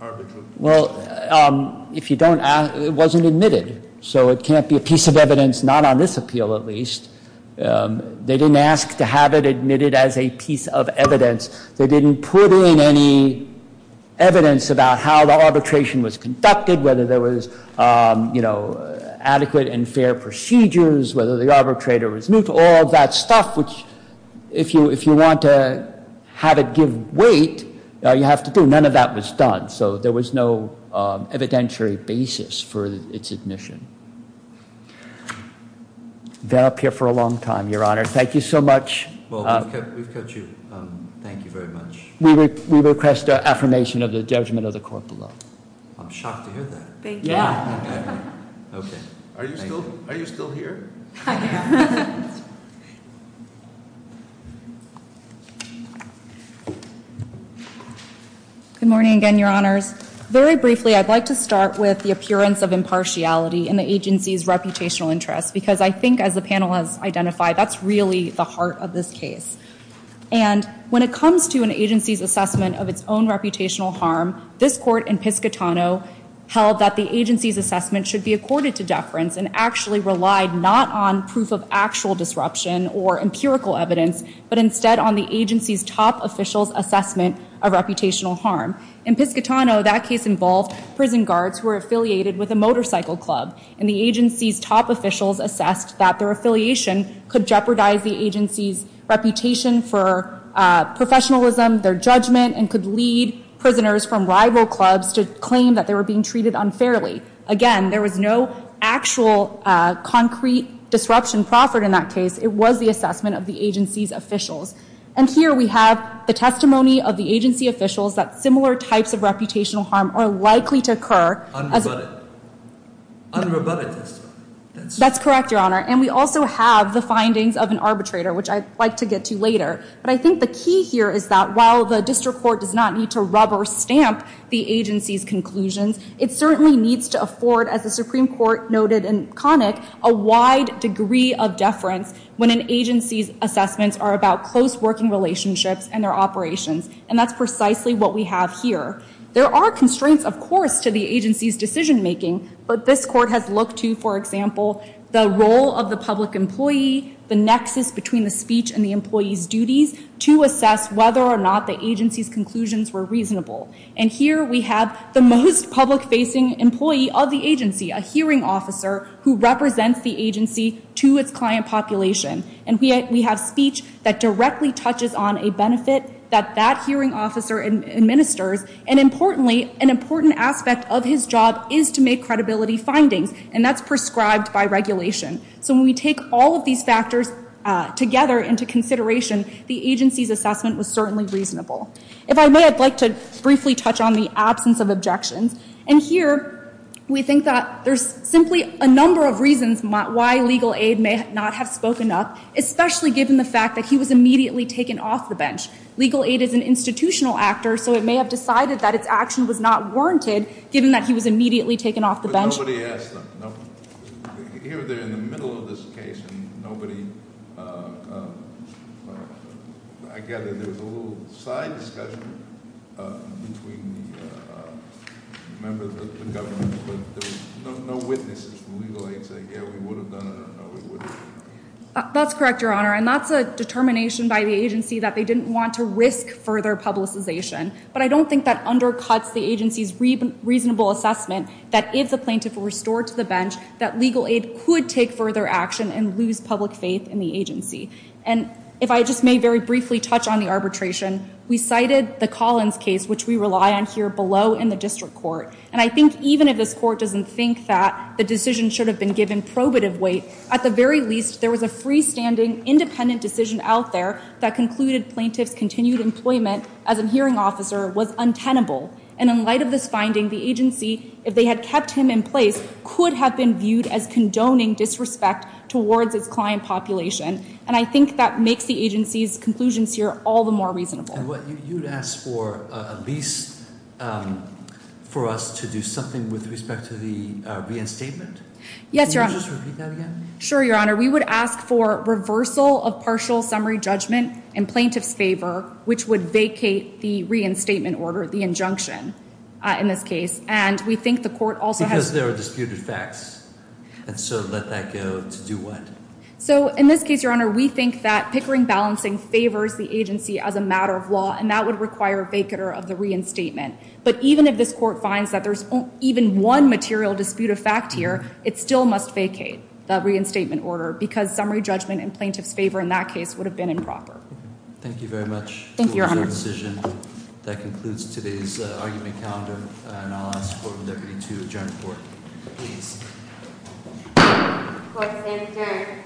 arbitral decision? Well, if you don't ask, it wasn't admitted. So it can't be a piece of evidence not on this appeal, at least. They didn't ask to have it admitted as a piece of evidence. They didn't put in any evidence about how the arbitration was conducted, whether there was adequate and fair procedures, whether the arbitrator was new to all of that stuff, which if you want to have it give weight, you have to do. None of that was done. So there was no evidentiary basis for its admission. Been up here for a long time, Your Honor. Thank you so much. Well, we've cut you. Thank you very much. We request affirmation of the judgment of the court below. I'm shocked to hear that. Yeah. Okay. Are you still here? I am. Good morning again, Your Honors. Very briefly, I'd like to start with the appearance of impartiality in the agency's reputational interest, because I think as the panel has identified, that's really the heart of this case. And when it comes to an agency's assessment of its own reputational harm, this Court in Piscitano held that the agency's assessment should be accorded to deference and actually relied not on proof of actual disruption or empirical evidence, but instead on the agency's top official's assessment of reputational harm. In Piscitano, that case involved prison guards who were affiliated with a motorcycle club, and the agency's top officials assessed that their affiliation could jeopardize the agency's reputation for professionalism, their judgment, and could lead prisoners from rival clubs to claim that they were being treated unfairly. Again, there was no actual concrete disruption proffered in that case. And here we have the testimony of the agency officials that similar types of reputational harm are likely to occur. Unrebutted testimony. That's correct, Your Honor. And we also have the findings of an arbitrator, which I'd like to get to later. But I think the key here is that while the district court does not need to rubber stamp the agency's conclusions, it certainly needs to afford, as the Supreme Court noted in Connick, a wide degree of deference when an agency's assessments are about close working relationships and their operations. And that's precisely what we have here. There are constraints, of course, to the agency's decision making, but this court has looked to, for example, the role of the public employee, the nexus between the speech and the employee's duties to assess whether or not the agency's conclusions were reasonable. And here we have the most public-facing employee of the agency, a hearing officer, who represents the agency to its client population. And we have speech that directly touches on a benefit that that hearing officer administers. And importantly, an important aspect of his job is to make credibility findings, and that's prescribed by regulation. So when we take all of these factors together into consideration, the agency's assessment was certainly reasonable. If I may, I'd like to briefly touch on the absence of objections. And here we think that there's simply a number of reasons why legal aid may not have spoken up, especially given the fact that he was immediately taken off the bench. Legal aid is an institutional actor, so it may have decided that its action was not warranted, But nobody asked that. Here, they're in the middle of this case, and nobody, I gather there was a little side discussion between the members of the government, but there were no witnesses from legal aid saying, yeah, we would have done it, or no, we wouldn't. That's correct, Your Honor, and that's a determination by the agency that they didn't want to risk further publicization. But I don't think that undercuts the agency's reasonable assessment that if the plaintiff were restored to the bench, that legal aid could take further action and lose public faith in the agency. And if I just may very briefly touch on the arbitration, we cited the Collins case, which we rely on here below in the district court, and I think even if this court doesn't think that the decision should have been given probative weight, at the very least, there was a freestanding, independent decision out there that concluded plaintiff's continued employment as a hearing officer was untenable. And in light of this finding, the agency, if they had kept him in place, could have been viewed as condoning disrespect towards its client population. And I think that makes the agency's conclusions here all the more reasonable. And you would ask for a lease for us to do something with respect to the reinstatement? Yes, Your Honor. Can you just repeat that again? Sure, Your Honor. We would ask for reversal of partial summary judgment in plaintiff's favor, which would vacate the reinstatement order, the injunction in this case. And we think the court also has- Because there are disputed facts. And so let that go to do what? So in this case, Your Honor, we think that pickering balancing favors the agency as a matter of law, and that would require a vacater of the reinstatement. But even if this court finds that there's even one material disputed fact here, it still must vacate the reinstatement order, because summary judgment in plaintiff's favor in that case would have been improper. Thank you very much. Thank you, Your Honor. That concludes today's argument calendar. And I'll ask the Court of the Deputy to adjourn the court. Please. Court is adjourned.